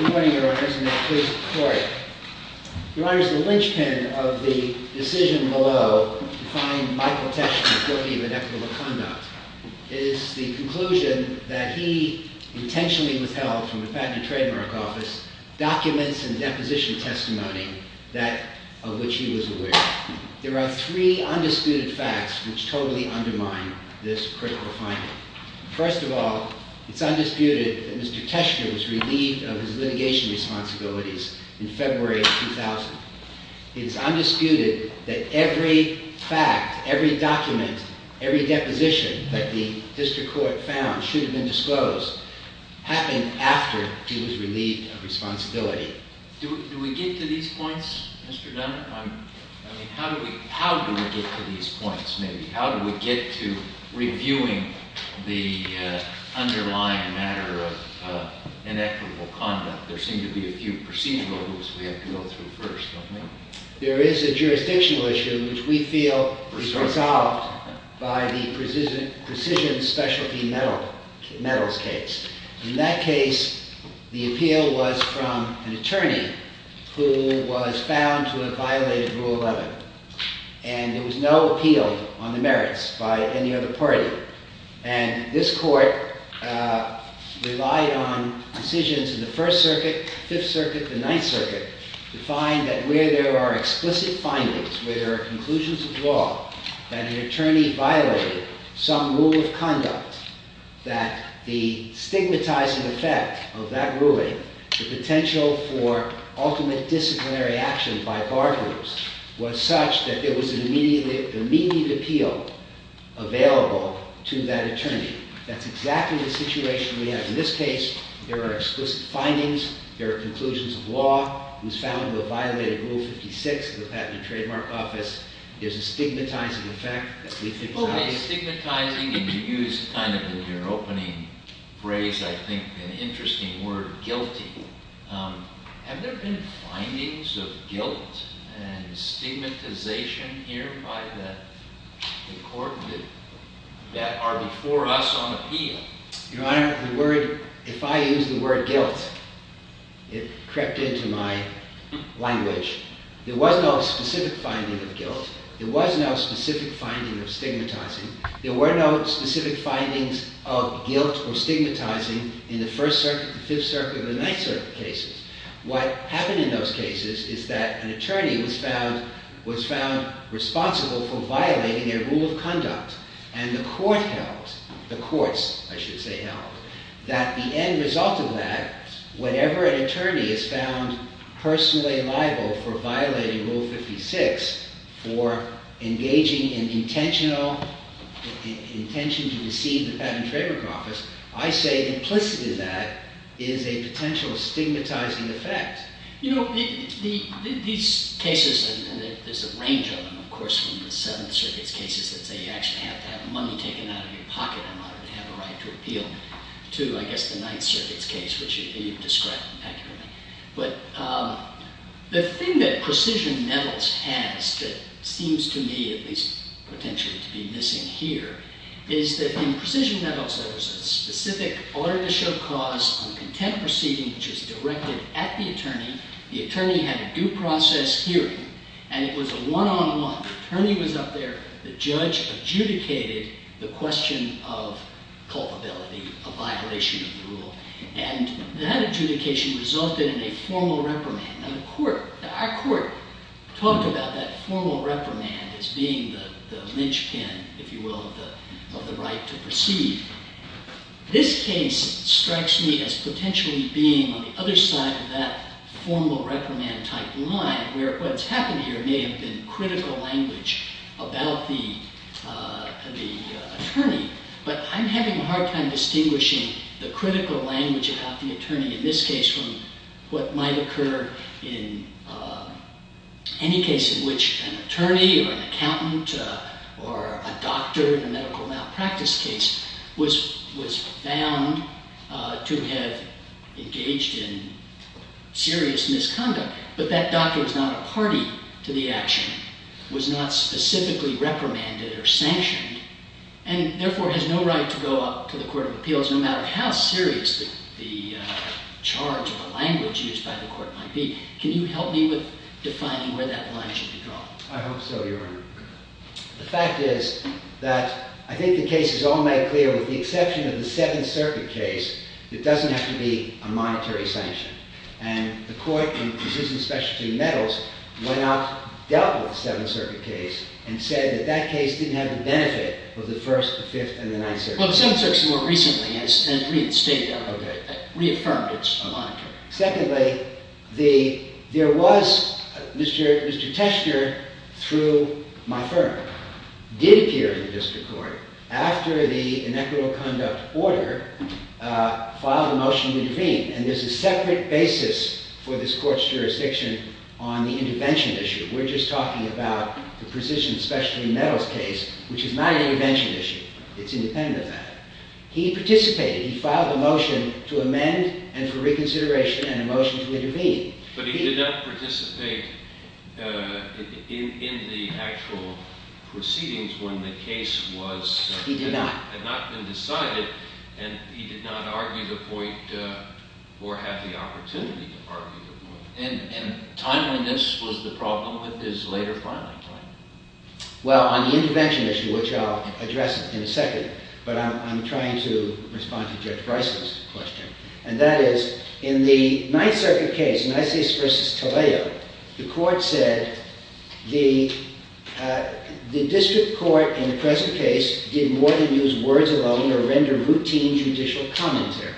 Good morning, Your Honors, and may it please the Court. Your Honors, the linchpin of the decision below, defying Michael Tesh's authority of inequitable conduct, is the conclusion that he intentionally withheld from the patent and trademark office documents and deposition testimony of which he was aware. There are three undisputed facts which totally undermine this critical finding. First of all, it's undisputed that Mr. Teshker was relieved of his litigation responsibilities in February of 2000. It's undisputed that every fact, every document, every deposition that the district court found should have been disclosed happened after he was relieved of responsibility. Do we get to these points, Mr. Dunner? How do we get to these points, maybe? How do we get to reviewing the underlying matter of inequitable conduct? There seem to be a few procedural groups we have to go through first, don't we? There is a jurisdictional issue which we feel is resolved by the precision specialty metals case. In that case, the appeal was from an attorney who was found to have violated Rule 11. And there was no appeal on the merits by any other party. And this court relied on decisions in the First Circuit, Fifth Circuit, the Ninth Circuit to find that where there are explicit findings, where there are conclusions of law, that an attorney violated some rule of conduct, that the stigmatizing effect of that ruling, the potential for ultimate disciplinary action by bargainers, was such that there was an immediate appeal available to that attorney. That's exactly the situation we have in this case. There are explicit findings. There are conclusions of law. He was found to have violated Rule 56 of the Patent and Trademark Office. There's a stigmatizing effect that we think is obvious. OK, stigmatizing, and you used kind of in your opening phrase, I think, an interesting word, guilty. Have there been findings of guilt and stigmatization here by the court that are before us on appeal? Your Honor, the word, if I use the word guilt, it crept into my language. There was no specific finding of guilt. There was no specific finding of stigmatizing. There were no specific findings of guilt or stigmatizing in the First Circuit, the Fifth Circuit, and the Ninth Circuit cases. What happened in those cases is that an attorney was found responsible for violating their rule of conduct. And the court held, the courts, I should say, held, that the end result of that, whatever an attorney is found personally liable for violating Rule 56, for engaging in intentional intention to deceive the Patent and Trademark Office, I say implicit in that is a potential stigmatizing effect. You know, these cases, and there's a range of them, of course, from the Seventh Circuit's cases that say you actually have to have money taken out of your pocket in order to have a right to appeal, to, I guess, the Ninth Circuit's case, which you've described accurately. But the thing that Precision Nettles has that seems to me, at least potentially, to be missing here is that in Precision Nettles, there was a specific order to show cause on a contempt proceeding, which is directed at the attorney. The attorney had a due process hearing. And it was a one-on-one. The attorney was up there. The judge adjudicated the question of culpability, a violation of the rule. And that adjudication resulted in a formal reprimand. Now, the court, our court, talked about that formal reprimand as being the linchpin, if you will, of the right to proceed. This case strikes me as potentially being on the other side of that formal reprimand-type line, where what's happened here may have been critical language about the attorney. But I'm having a hard time distinguishing the critical language about the attorney, in this case, from what might occur in any case in which an attorney or an accountant or a doctor in a medical malpractice case was found to have engaged in serious misconduct. But that doctor is not a party to the action, was not specifically reprimanded or sanctioned, and therefore has no right to go up to the Court of Appeals, no matter how serious the charge or the language used by the court might be. Can you help me with defining where that line should be drawn? I hope so, Your Honor. The fact is that I think the case is all made clear, with the exception of the Seventh Circuit case, it doesn't have to be a monetary sanction. And the court in precision specialty metals went out, dealt with the Seventh Circuit case, and said that that case didn't have the benefit of the First, the Fifth, and the Ninth Circuit. Well, the Seventh Circuit more recently, and reaffirmed it's a monetary. Secondly, there was Mr. Tester, through my firm, did appear in the district court after the inequitable conduct order, filed a motion to intervene. And there's a separate basis for this court's jurisdiction on the intervention issue. We're just talking about the precision specialty metals case, which is not an intervention issue. It's independent of that. He participated, he filed a motion to amend, and for reconsideration, and a motion to intervene. But he did not participate in the actual proceedings when the case had not been decided, and he did not argue the point, or have the opportunity to argue the point. And timeliness was the problem with his later filing time. Well, on the intervention issue, which I'll address in a second, but I'm trying to respond to Judge Price's question. And that is, in the Ninth Circuit case, Nicias versus Talao, the court said, the district court in the present case did more than use words alone, or render routine judicial commentary.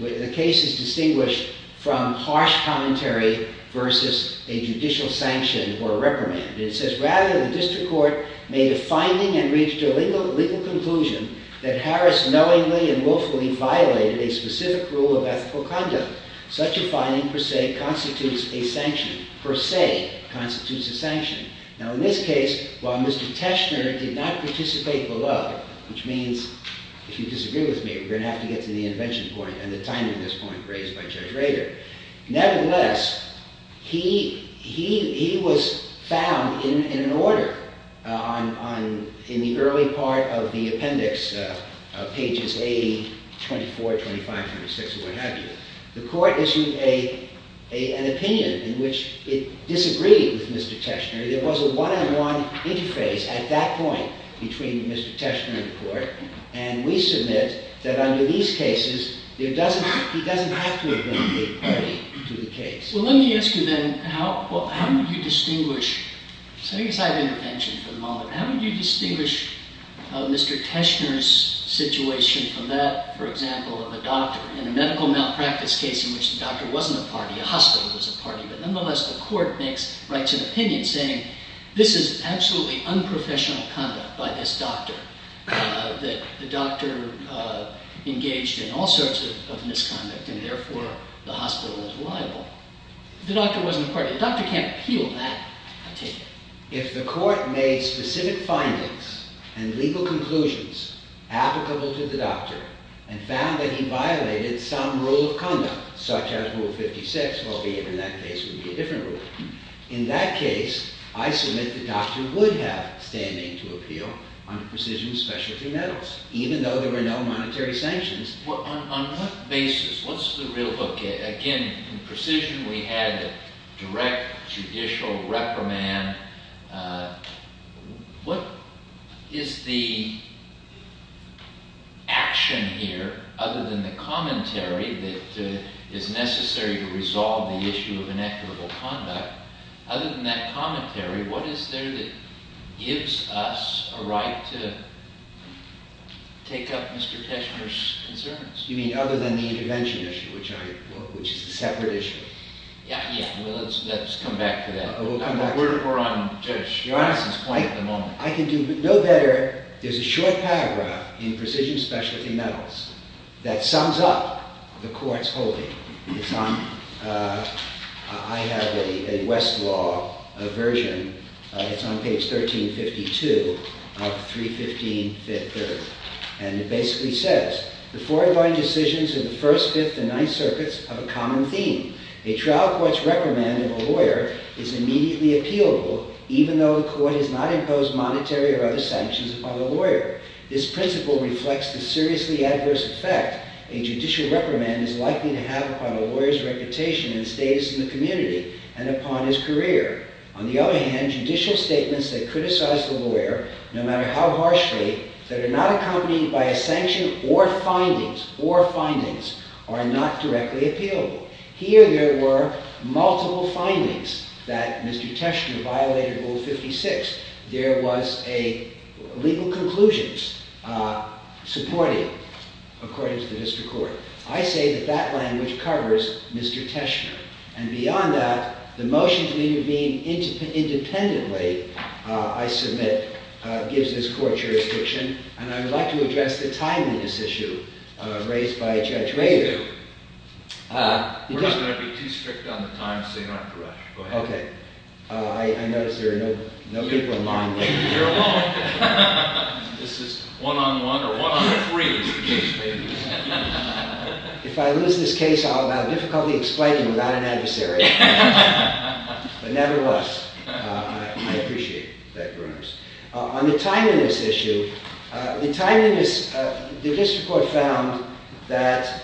The case is distinguished from harsh commentary versus a judicial sanction or reprimand. It says, rather, the district court made a finding and reached a legal conclusion that Harris knowingly and willfully violated a specific rule of ethical conduct. Such a finding, per se, constitutes a sanction. Per se, constitutes a sanction. Now, in this case, while Mr. Teschner did not participate below, which means, if you disagree with me, we're going to have to get to the intervention point and the timing of this point raised by Judge Rader. Nevertheless, he was found in an order on, in the early part of the appendix, pages 80, 24, 25, 26, or what have you. The court issued an opinion in which it disagreed with Mr. Teschner. There was a one-on-one interface at that point between Mr. Teschner and the court. And we submit that under these cases, he doesn't have to have been a party to the case. Well, let me ask you then, how would you distinguish? So I think it's out of intervention for the moment. How would you distinguish Mr. Teschner's situation from that, for example, of a doctor in a medical malpractice case in which the doctor wasn't a party, a hospital was a party? But nonetheless, the court makes, writes an opinion saying, this is absolutely unprofessional conduct by this doctor, that the doctor engaged in all sorts of misconduct and therefore the hospital is liable. The doctor wasn't a party. The doctor can't appeal that, I take it. If the court made specific findings and legal conclusions applicable to the doctor and found that he violated some rule of conduct, such as Rule 56, well, even in that case, it would be a different rule. In that case, I submit the doctor would have standing to appeal under precision specialty metals, even though there were no monetary sanctions. Well, on what basis? What's the real book? Again, in precision, we had a direct judicial reprimand. What is the action here, other than the commentary that is necessary to resolve the issue of inequitable conduct? Other than that commentary, what is there that gives us a right to take up Mr. Teschner's concerns? You mean other than the intervention issue, which is a separate issue? Yeah, yeah. Well, let's come back to that. We'll come back to that. We're on Judge Johnson's point at the moment. I can do no better. There's a short paragraph in precision specialty metals that sums up the court's holding. I have a Westlaw version. It's on page 1352 of 315 Fifth Earth. And it basically says, the four divine decisions of the First, Fifth, and Ninth Circuits have a common theme. A trial court's reprimand of a lawyer is immediately appealable, even though the court has not imposed monetary or other sanctions upon the lawyer. This principle reflects the seriously adverse effect a judicial reprimand is likely to have upon a lawyer's reputation and status in the community and upon his career. On the other hand, judicial statements that criticize the lawyer, no matter how harshly, that are not accompanied by a sanction or findings are not directly appealable. Here, there were multiple findings that Mr. Teschner violated Rule 56. There was a legal conclusions supporting, according to the district court. I say that that language covers Mr. Teschner. And beyond that, the motion to intervene independently, I submit, gives this court jurisdiction. And I would like to address the timeliness issue raised by Judge Rader. Please do. We're just going to be too strict on the time, so you don't have to rush. Go ahead. OK. I notice there are no people in line. You're alone. This is one-on-one or one-on-three is the case. If I lose this case, I'll have difficulty explaining without an adversary. But nevertheless, I appreciate that, Your Honors. On the timeliness issue, the district court found that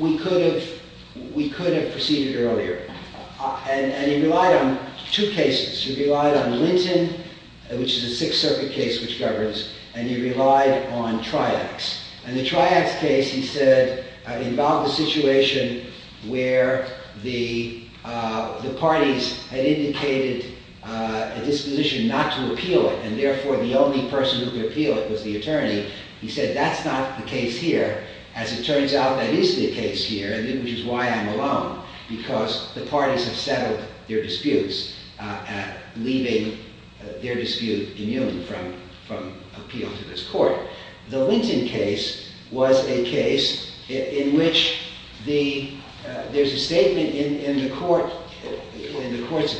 we could have proceeded earlier. And he relied on two cases. He relied on Linton, which is a Sixth Circuit case which governs, and he relied on Triax. And the Triax case, he said, involved a situation where the parties had indicated a disposition not to appeal it. was the attorney. He said, that's not the case here. As it turns out, that is the case here, which is why I'm alone, because the parties have settled their disputes, leaving their dispute immune from appeal to this court. The Linton case was a case in which there's a statement in the court's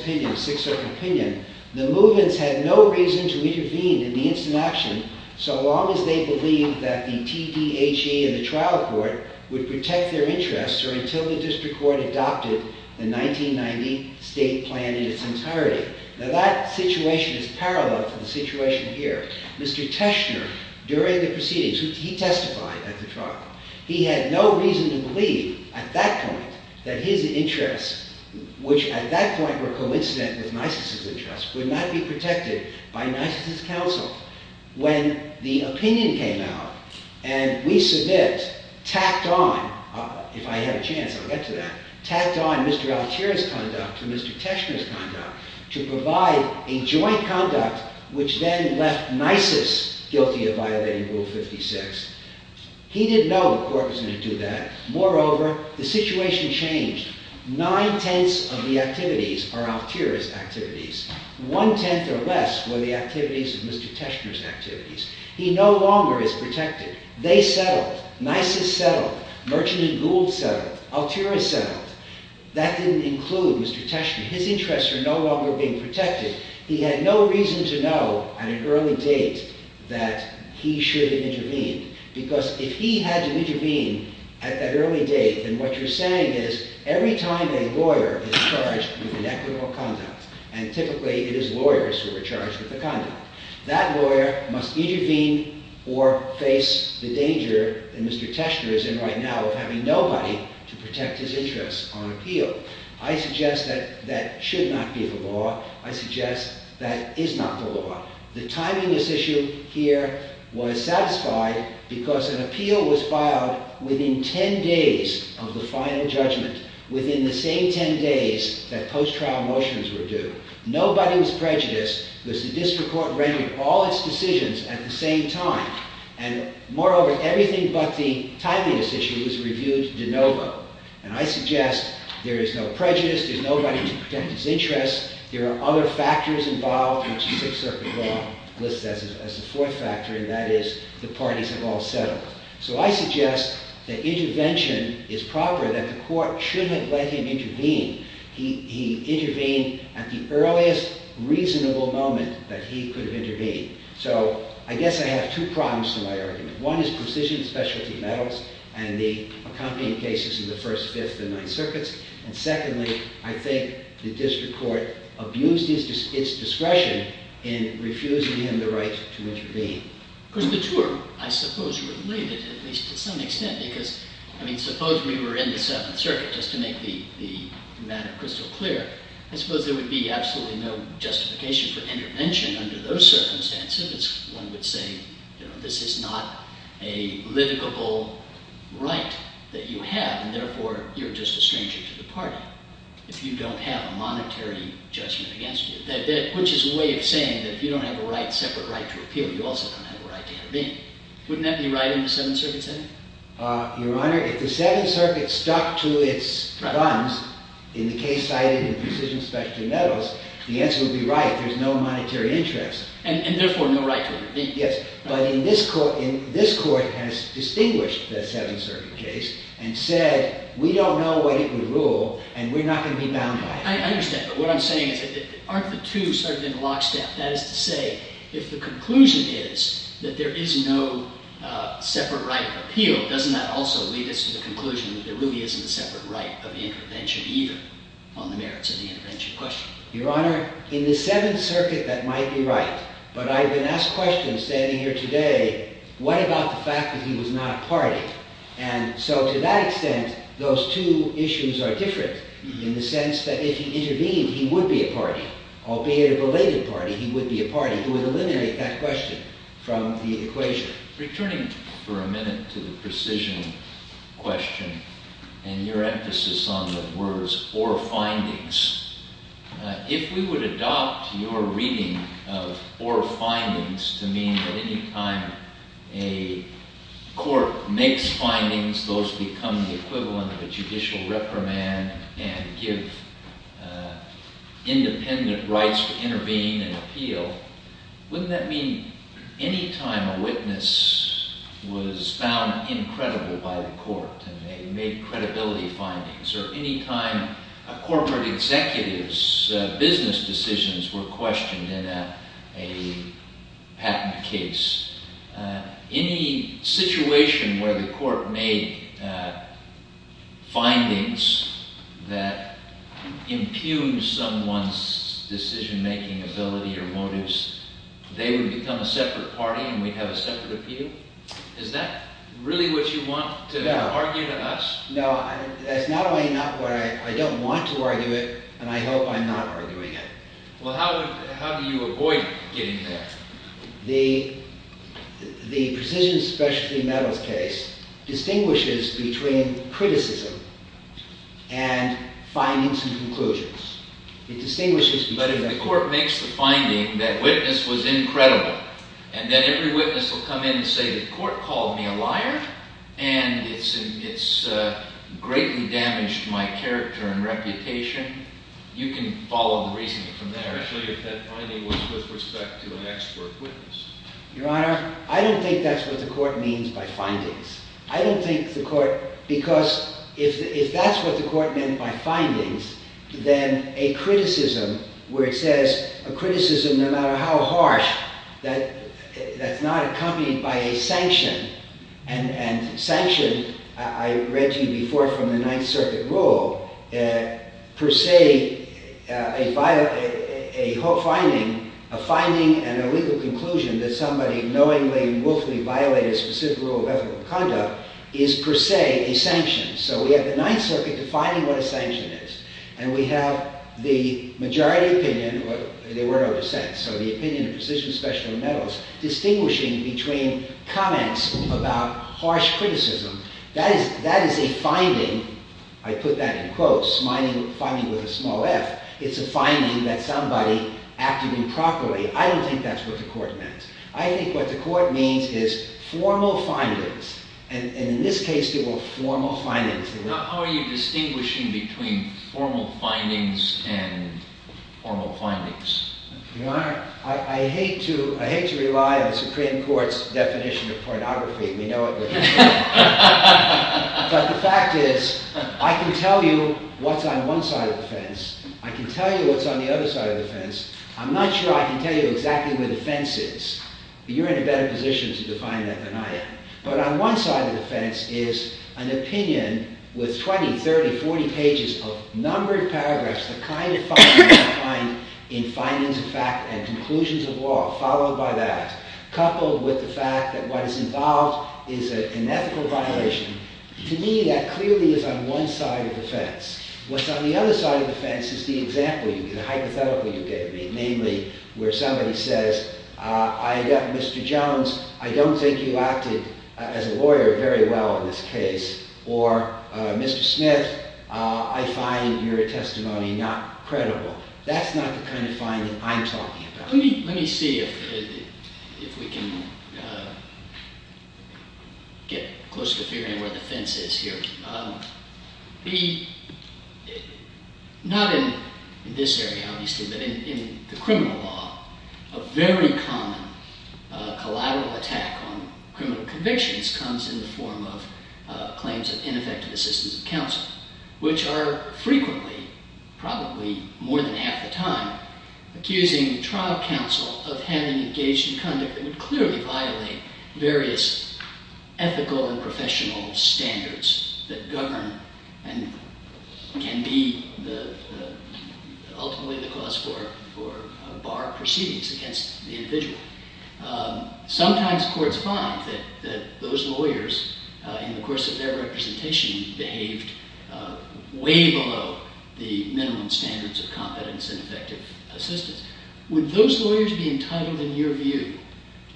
opinion, Sixth Circuit opinion. The movements had no reason to intervene in the instant action so long as they believed that the TDHE and the trial court would protect their interests or until the district court adopted the 1990 state plan in its entirety. Now, that situation is parallel to the situation here. Mr. Teshner, during the proceedings, he testified at the trial. He had no reason to believe at that point that his interests, which at that point would not be protected by Nisus's counsel when the opinion came out, and we submit, tacked on, if I had a chance, I'll get to that, tacked on Mr. Altea's conduct to Mr. Teshner's conduct to provide a joint conduct which then left Nisus guilty of violating Rule 56. He didn't know the court was going to do that. Moreover, the situation changed. Nine-tenths of the activities are Altea's activities. One-tenth or less were the activities of Mr. Teshner's activities. He no longer is protected. They settled. Nisus settled. Merchant and Gould settled. Altea settled. That didn't include Mr. Teshner. His interests are no longer being protected. He had no reason to know at an early date that he should intervene because if he had to intervene at that early date, then what you're saying is every time a lawyer is charged with inequitable conduct and typically it is lawyers who are charged with the conduct, that lawyer must intervene or face the danger that Mr. Teshner is in right now of having nobody to protect his interests on appeal. I suggest that that should not be the law. I suggest that is not the law. The timing of this issue here was satisfied because an appeal was filed within 10 days of the final judgment, within the same 10 days that post-trial motions were due. Nobody was prejudiced because the district court rendered all its decisions at the same time. And moreover, everything but the timing of this issue was reviewed de novo. And I suggest there is no prejudice. There's nobody to protect his interests. There are other factors involved, which the Sixth Circuit Law lists as a fourth factor, and that is the parties have all settled. So I suggest that intervention is proper, that the court shouldn't have let him intervene. He intervened at the earliest reasonable moment that he could have intervened. So I guess I have two problems to my argument. One is precision specialty metals and the accompanying cases in the First, Fifth, and Ninth Circuits. And secondly, I think the district court abused its discretion in refusing him the right to intervene. Of course, the two are, I suppose, related, at least to some extent, because, I mean, suppose we were in the Seventh Circuit just to make the matter crystal clear. I suppose there would be absolutely no justification for intervention under those circumstances. One would say, this is not a livable right that you have. And therefore, you're just a stranger to the party if you don't have a monetary judgment against you, which is a way of saying that if you don't have a separate right to appeal, you also don't have a right to intervene. Wouldn't that be right in the Seventh Circuit setting? Your Honor, if the Seventh Circuit stuck to its guns in the case cited in the precision specialty metals, the answer would be right. There's no monetary interest. And therefore, no right to intervene. Yes. But in this court, this court has distinguished the Seventh Circuit case and said, we don't know what it would rule, and we're not going to be bound by it. I understand. But what I'm saying is, aren't the two sort of in lockstep? That is to say, if the conclusion is that there is no separate right of appeal, doesn't that also lead us to the conclusion that there really isn't a separate right of intervention either on the merits of the intervention question? Your Honor, in the Seventh Circuit, that might be right. But I've been asked questions standing here today, what about the fact that he was not a party? And so to that extent, those two issues are different in the sense that if he intervened, he would be a party. Albeit a belated party, he would be from the equation. Returning for a minute to the precision question and your emphasis on the words or findings, if we would adopt your reading of or findings to mean that any time a court makes findings, those become the equivalent of a judicial reprimand and give independent rights to intervene and appeal, wouldn't that mean any time a witness was found incredible by the court and they made credibility findings, or any time a corporate executive's business decisions were questioned in a patent case, any situation where the court made findings that impugned someone's decision-making ability or motives, they would become a separate party and we'd have a separate appeal? Is that really what you want to argue to us? No, that's not only not what I don't want to argue it, and I hope I'm not arguing it. Well, how do you avoid getting there? The precision specialty metals case distinguishes between criticism and findings and conclusions. It distinguishes between them. But if the court makes the finding that witness was incredible, and then every witness will come in and say the court called me a liar, and it's greatly damaged my character and reputation, you can follow the reasoning from there. Especially if that finding was with respect to an expert witness. Your Honor, I don't think that's what the court means by findings. I don't think the court, because if that's what the court meant by findings, then a criticism where it says a criticism, no matter how harsh, that's not accompanied by a sanction. And sanction, I read to you before from the Ninth Circuit rule, per se, a finding and a legal conclusion that somebody knowingly and willfully violated a specific rule of ethical conduct is, per se, a sanction. So we have the Ninth Circuit defining what a sanction is. And we have the majority opinion, or they were in our dissent, so the opinion of precision specialty metals distinguishing between comments about harsh criticism. That is a finding, I put that in quotes, finding with a small f. It's a finding that somebody acted improperly. I don't think that's what the court meant. I think what the court means is formal findings. And in this case, they were formal findings. How are you distinguishing between formal findings and formal findings? I hate to rely on the Supreme Court's definition of pornography. We know it. But the fact is, I can tell you what's on one side of the fence. I can tell you what's on the other side of the fence. I'm not sure I can tell you exactly where the fence is. You're in a better position to define that than I am. But on one side of the fence is an opinion with 20, 30, 40 pages of numbered paragraphs, the kind of findings you find in findings of fact and conclusions of law, followed by that, coupled with the fact that what is involved is an ethical violation. To me, that clearly is on one side of the fence. What's on the other side of the fence is the example, the hypothetical you gave me, namely, where somebody says, Mr. Jones, I don't think you acted as a lawyer very well in this case. Or, Mr. Smith, I find your testimony not credible. That's not the kind of finding I'm talking about. Let me see if we can get close to figuring where the fence is here. Not in this area, obviously, but in the criminal law, a very common collateral attack on criminal convictions comes in the form of claims of ineffective assistance of counsel, which are frequently, probably more than half the time, accusing the trial counsel of having engaged in conduct that would clearly violate various ethical and professional standards that govern and can be, ultimately, the cause for bar proceedings against the individual. Sometimes courts find that those lawyers, in the course of their representation, behaved way below the minimum standards of competence and effective assistance. Would those lawyers be entitled, in your view,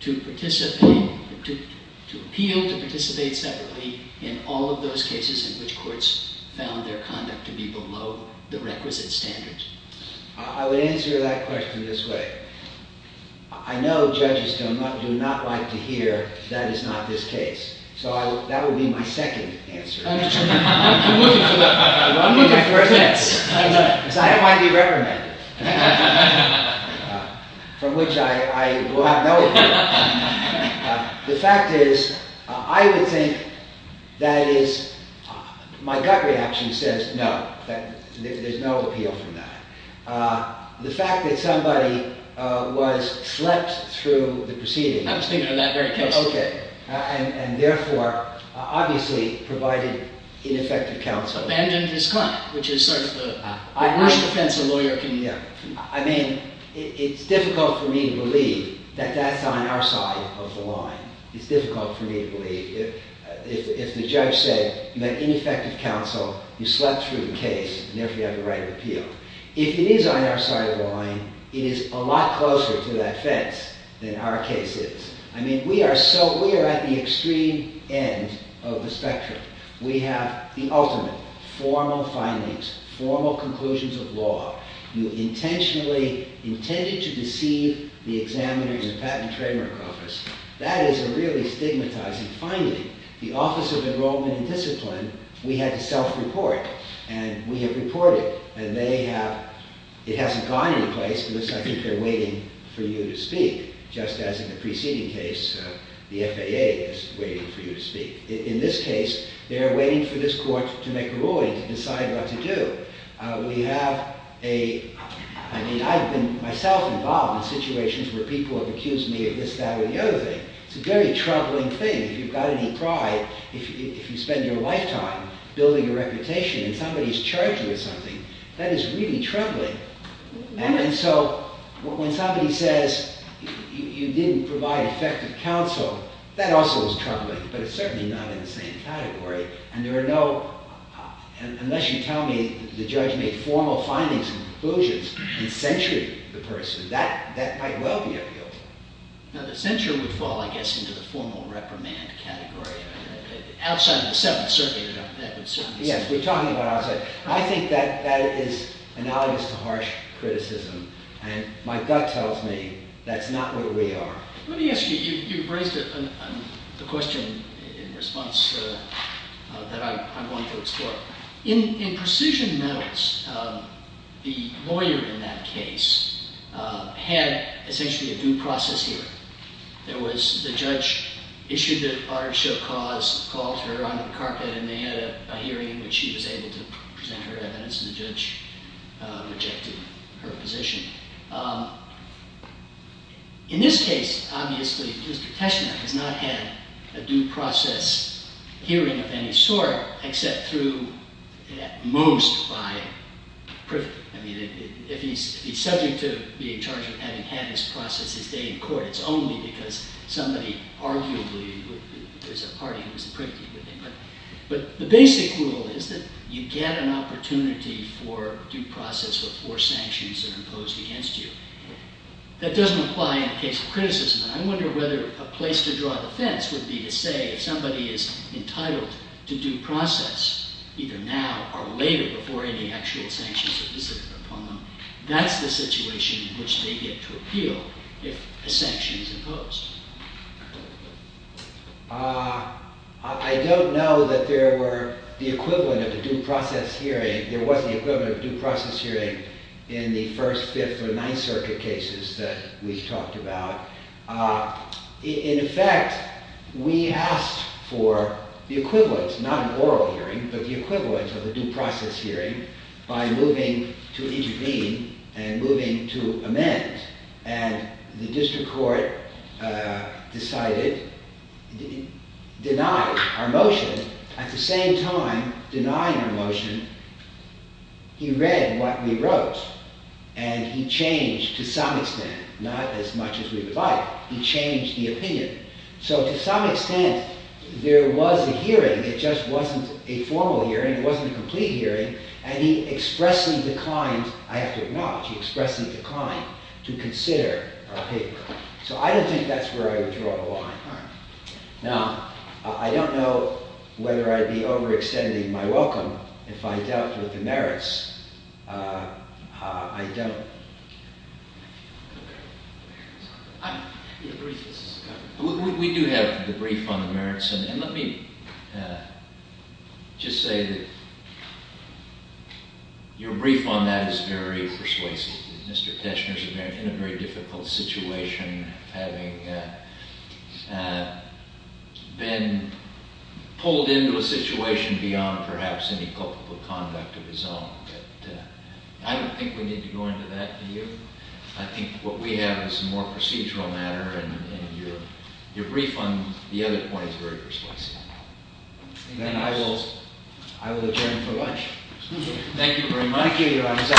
to appeal to participate separately in all of those cases in which courts found their conduct to be below the requisite standards? I would answer that question this way. I know judges do not like to hear, that is not this case. So that would be my second answer. I'm looking for that. I'm looking for a third answer. Because I don't want to be reprimanded. From which I will have no appeal. The fact is, I would think that is, my gut reaction says no. There's no appeal from that. The fact that somebody was slept through the proceeding. I was thinking of that very case. And therefore, obviously, provided ineffective counsel. Abandoned his client, which is sort of the worst defense a lawyer can give. I mean, it's difficult for me to believe that that's on our side of the line. It's difficult for me to believe. If the judge said, you had ineffective counsel, you slept through the case, and therefore, you have the right to appeal. If it is on our side of the line, it is a lot closer to that fence than our case is. I mean, we are at the extreme end of the spectrum. We have the ultimate formal findings, formal conclusions of law. You intentionally intended to deceive the examiners of Patent and Trademark Office. That is a really stigmatizing finding. The Office of Enrollment and Discipline, we had to self-report. And we have reported. And they have, it hasn't gone any place, because I think they're waiting for you to speak. Just as in the preceding case, the FAA is waiting for you to speak. In this case, they are waiting for this court to make a ruling to decide what to do. We have a, I mean, I've been myself involved in situations where people have accused me of this, that, or the other thing. It's a very troubling thing. If you've got any pride, if you spend your lifetime building a reputation, and somebody's charged you with something, that is really troubling. And so, when somebody says, you didn't provide effective counsel, that also is troubling. But it's certainly not in the same category. And there are no, unless you tell me the judge made formal findings and conclusions and censured the person, that might well be appealed. Now, the censure would fall, I guess, into the formal reprimand category. Outside of the Seventh Circuit, that would certainly. Yes, we're talking about outside. I think that that is analogous to harsh criticism. And my gut tells me that's not where we are. Let me ask you, you've raised a question in response that I'm going to explore. In Precision Medals, the lawyer in that case had, essentially, a due process hearing. There was, the judge issued the order to show cause, called her onto the carpet, and they had a hearing in which she was able to present her evidence, and the judge rejected her position. In this case, obviously, Mr. Teschner has not had a due process hearing of any sort, except through, at most, by privy. I mean, if he's subject to be in charge of having had this process his day in court, it's only because somebody, arguably, there's a party who's privy to it. But the basic rule is that you get an opportunity for due process or forced sanctions that are imposed against you. That doesn't apply in the case of criticism. And I wonder whether a place to draw the fence would be to say, if somebody is entitled to due process, either now or later, before any actual sanctions are visited upon them, that's the situation in which they get to appeal if a sanction is imposed. I don't know that there were the equivalent of a due process hearing, there was the equivalent of a due process hearing in the First, Fifth, and Ninth Circuit cases that we've talked about. In effect, we asked for the equivalent, not an oral hearing, but the equivalent of a due process hearing by moving to intervene and moving to amend. And the district court decided, denied our motion, at the same time denying our motion, he read what we wrote. And he changed, to some extent, not as much as we would like, he changed the opinion. So, to some extent, there was a hearing, it just wasn't a formal hearing, it wasn't a complete hearing, and he expressly declined, I have to acknowledge, he expressly declined to consider our paper. So, I don't think that's where I would draw the line. Now, I don't know whether I'd be overextending my welcome if I dealt with the merits, I don't. I'm, we do have the brief on the merits, and let me just say that your brief on that is very persuasive. Mr. Teshner's in a very difficult situation, having been pulled into a situation beyond, perhaps, any culpable conduct of his own. But I don't think we need to go into that, do you? I think what we have is a more procedural matter, and your brief on the other point is very persuasive. And I will adjourn for lunch. Thank you very much. Thank you, your Honor.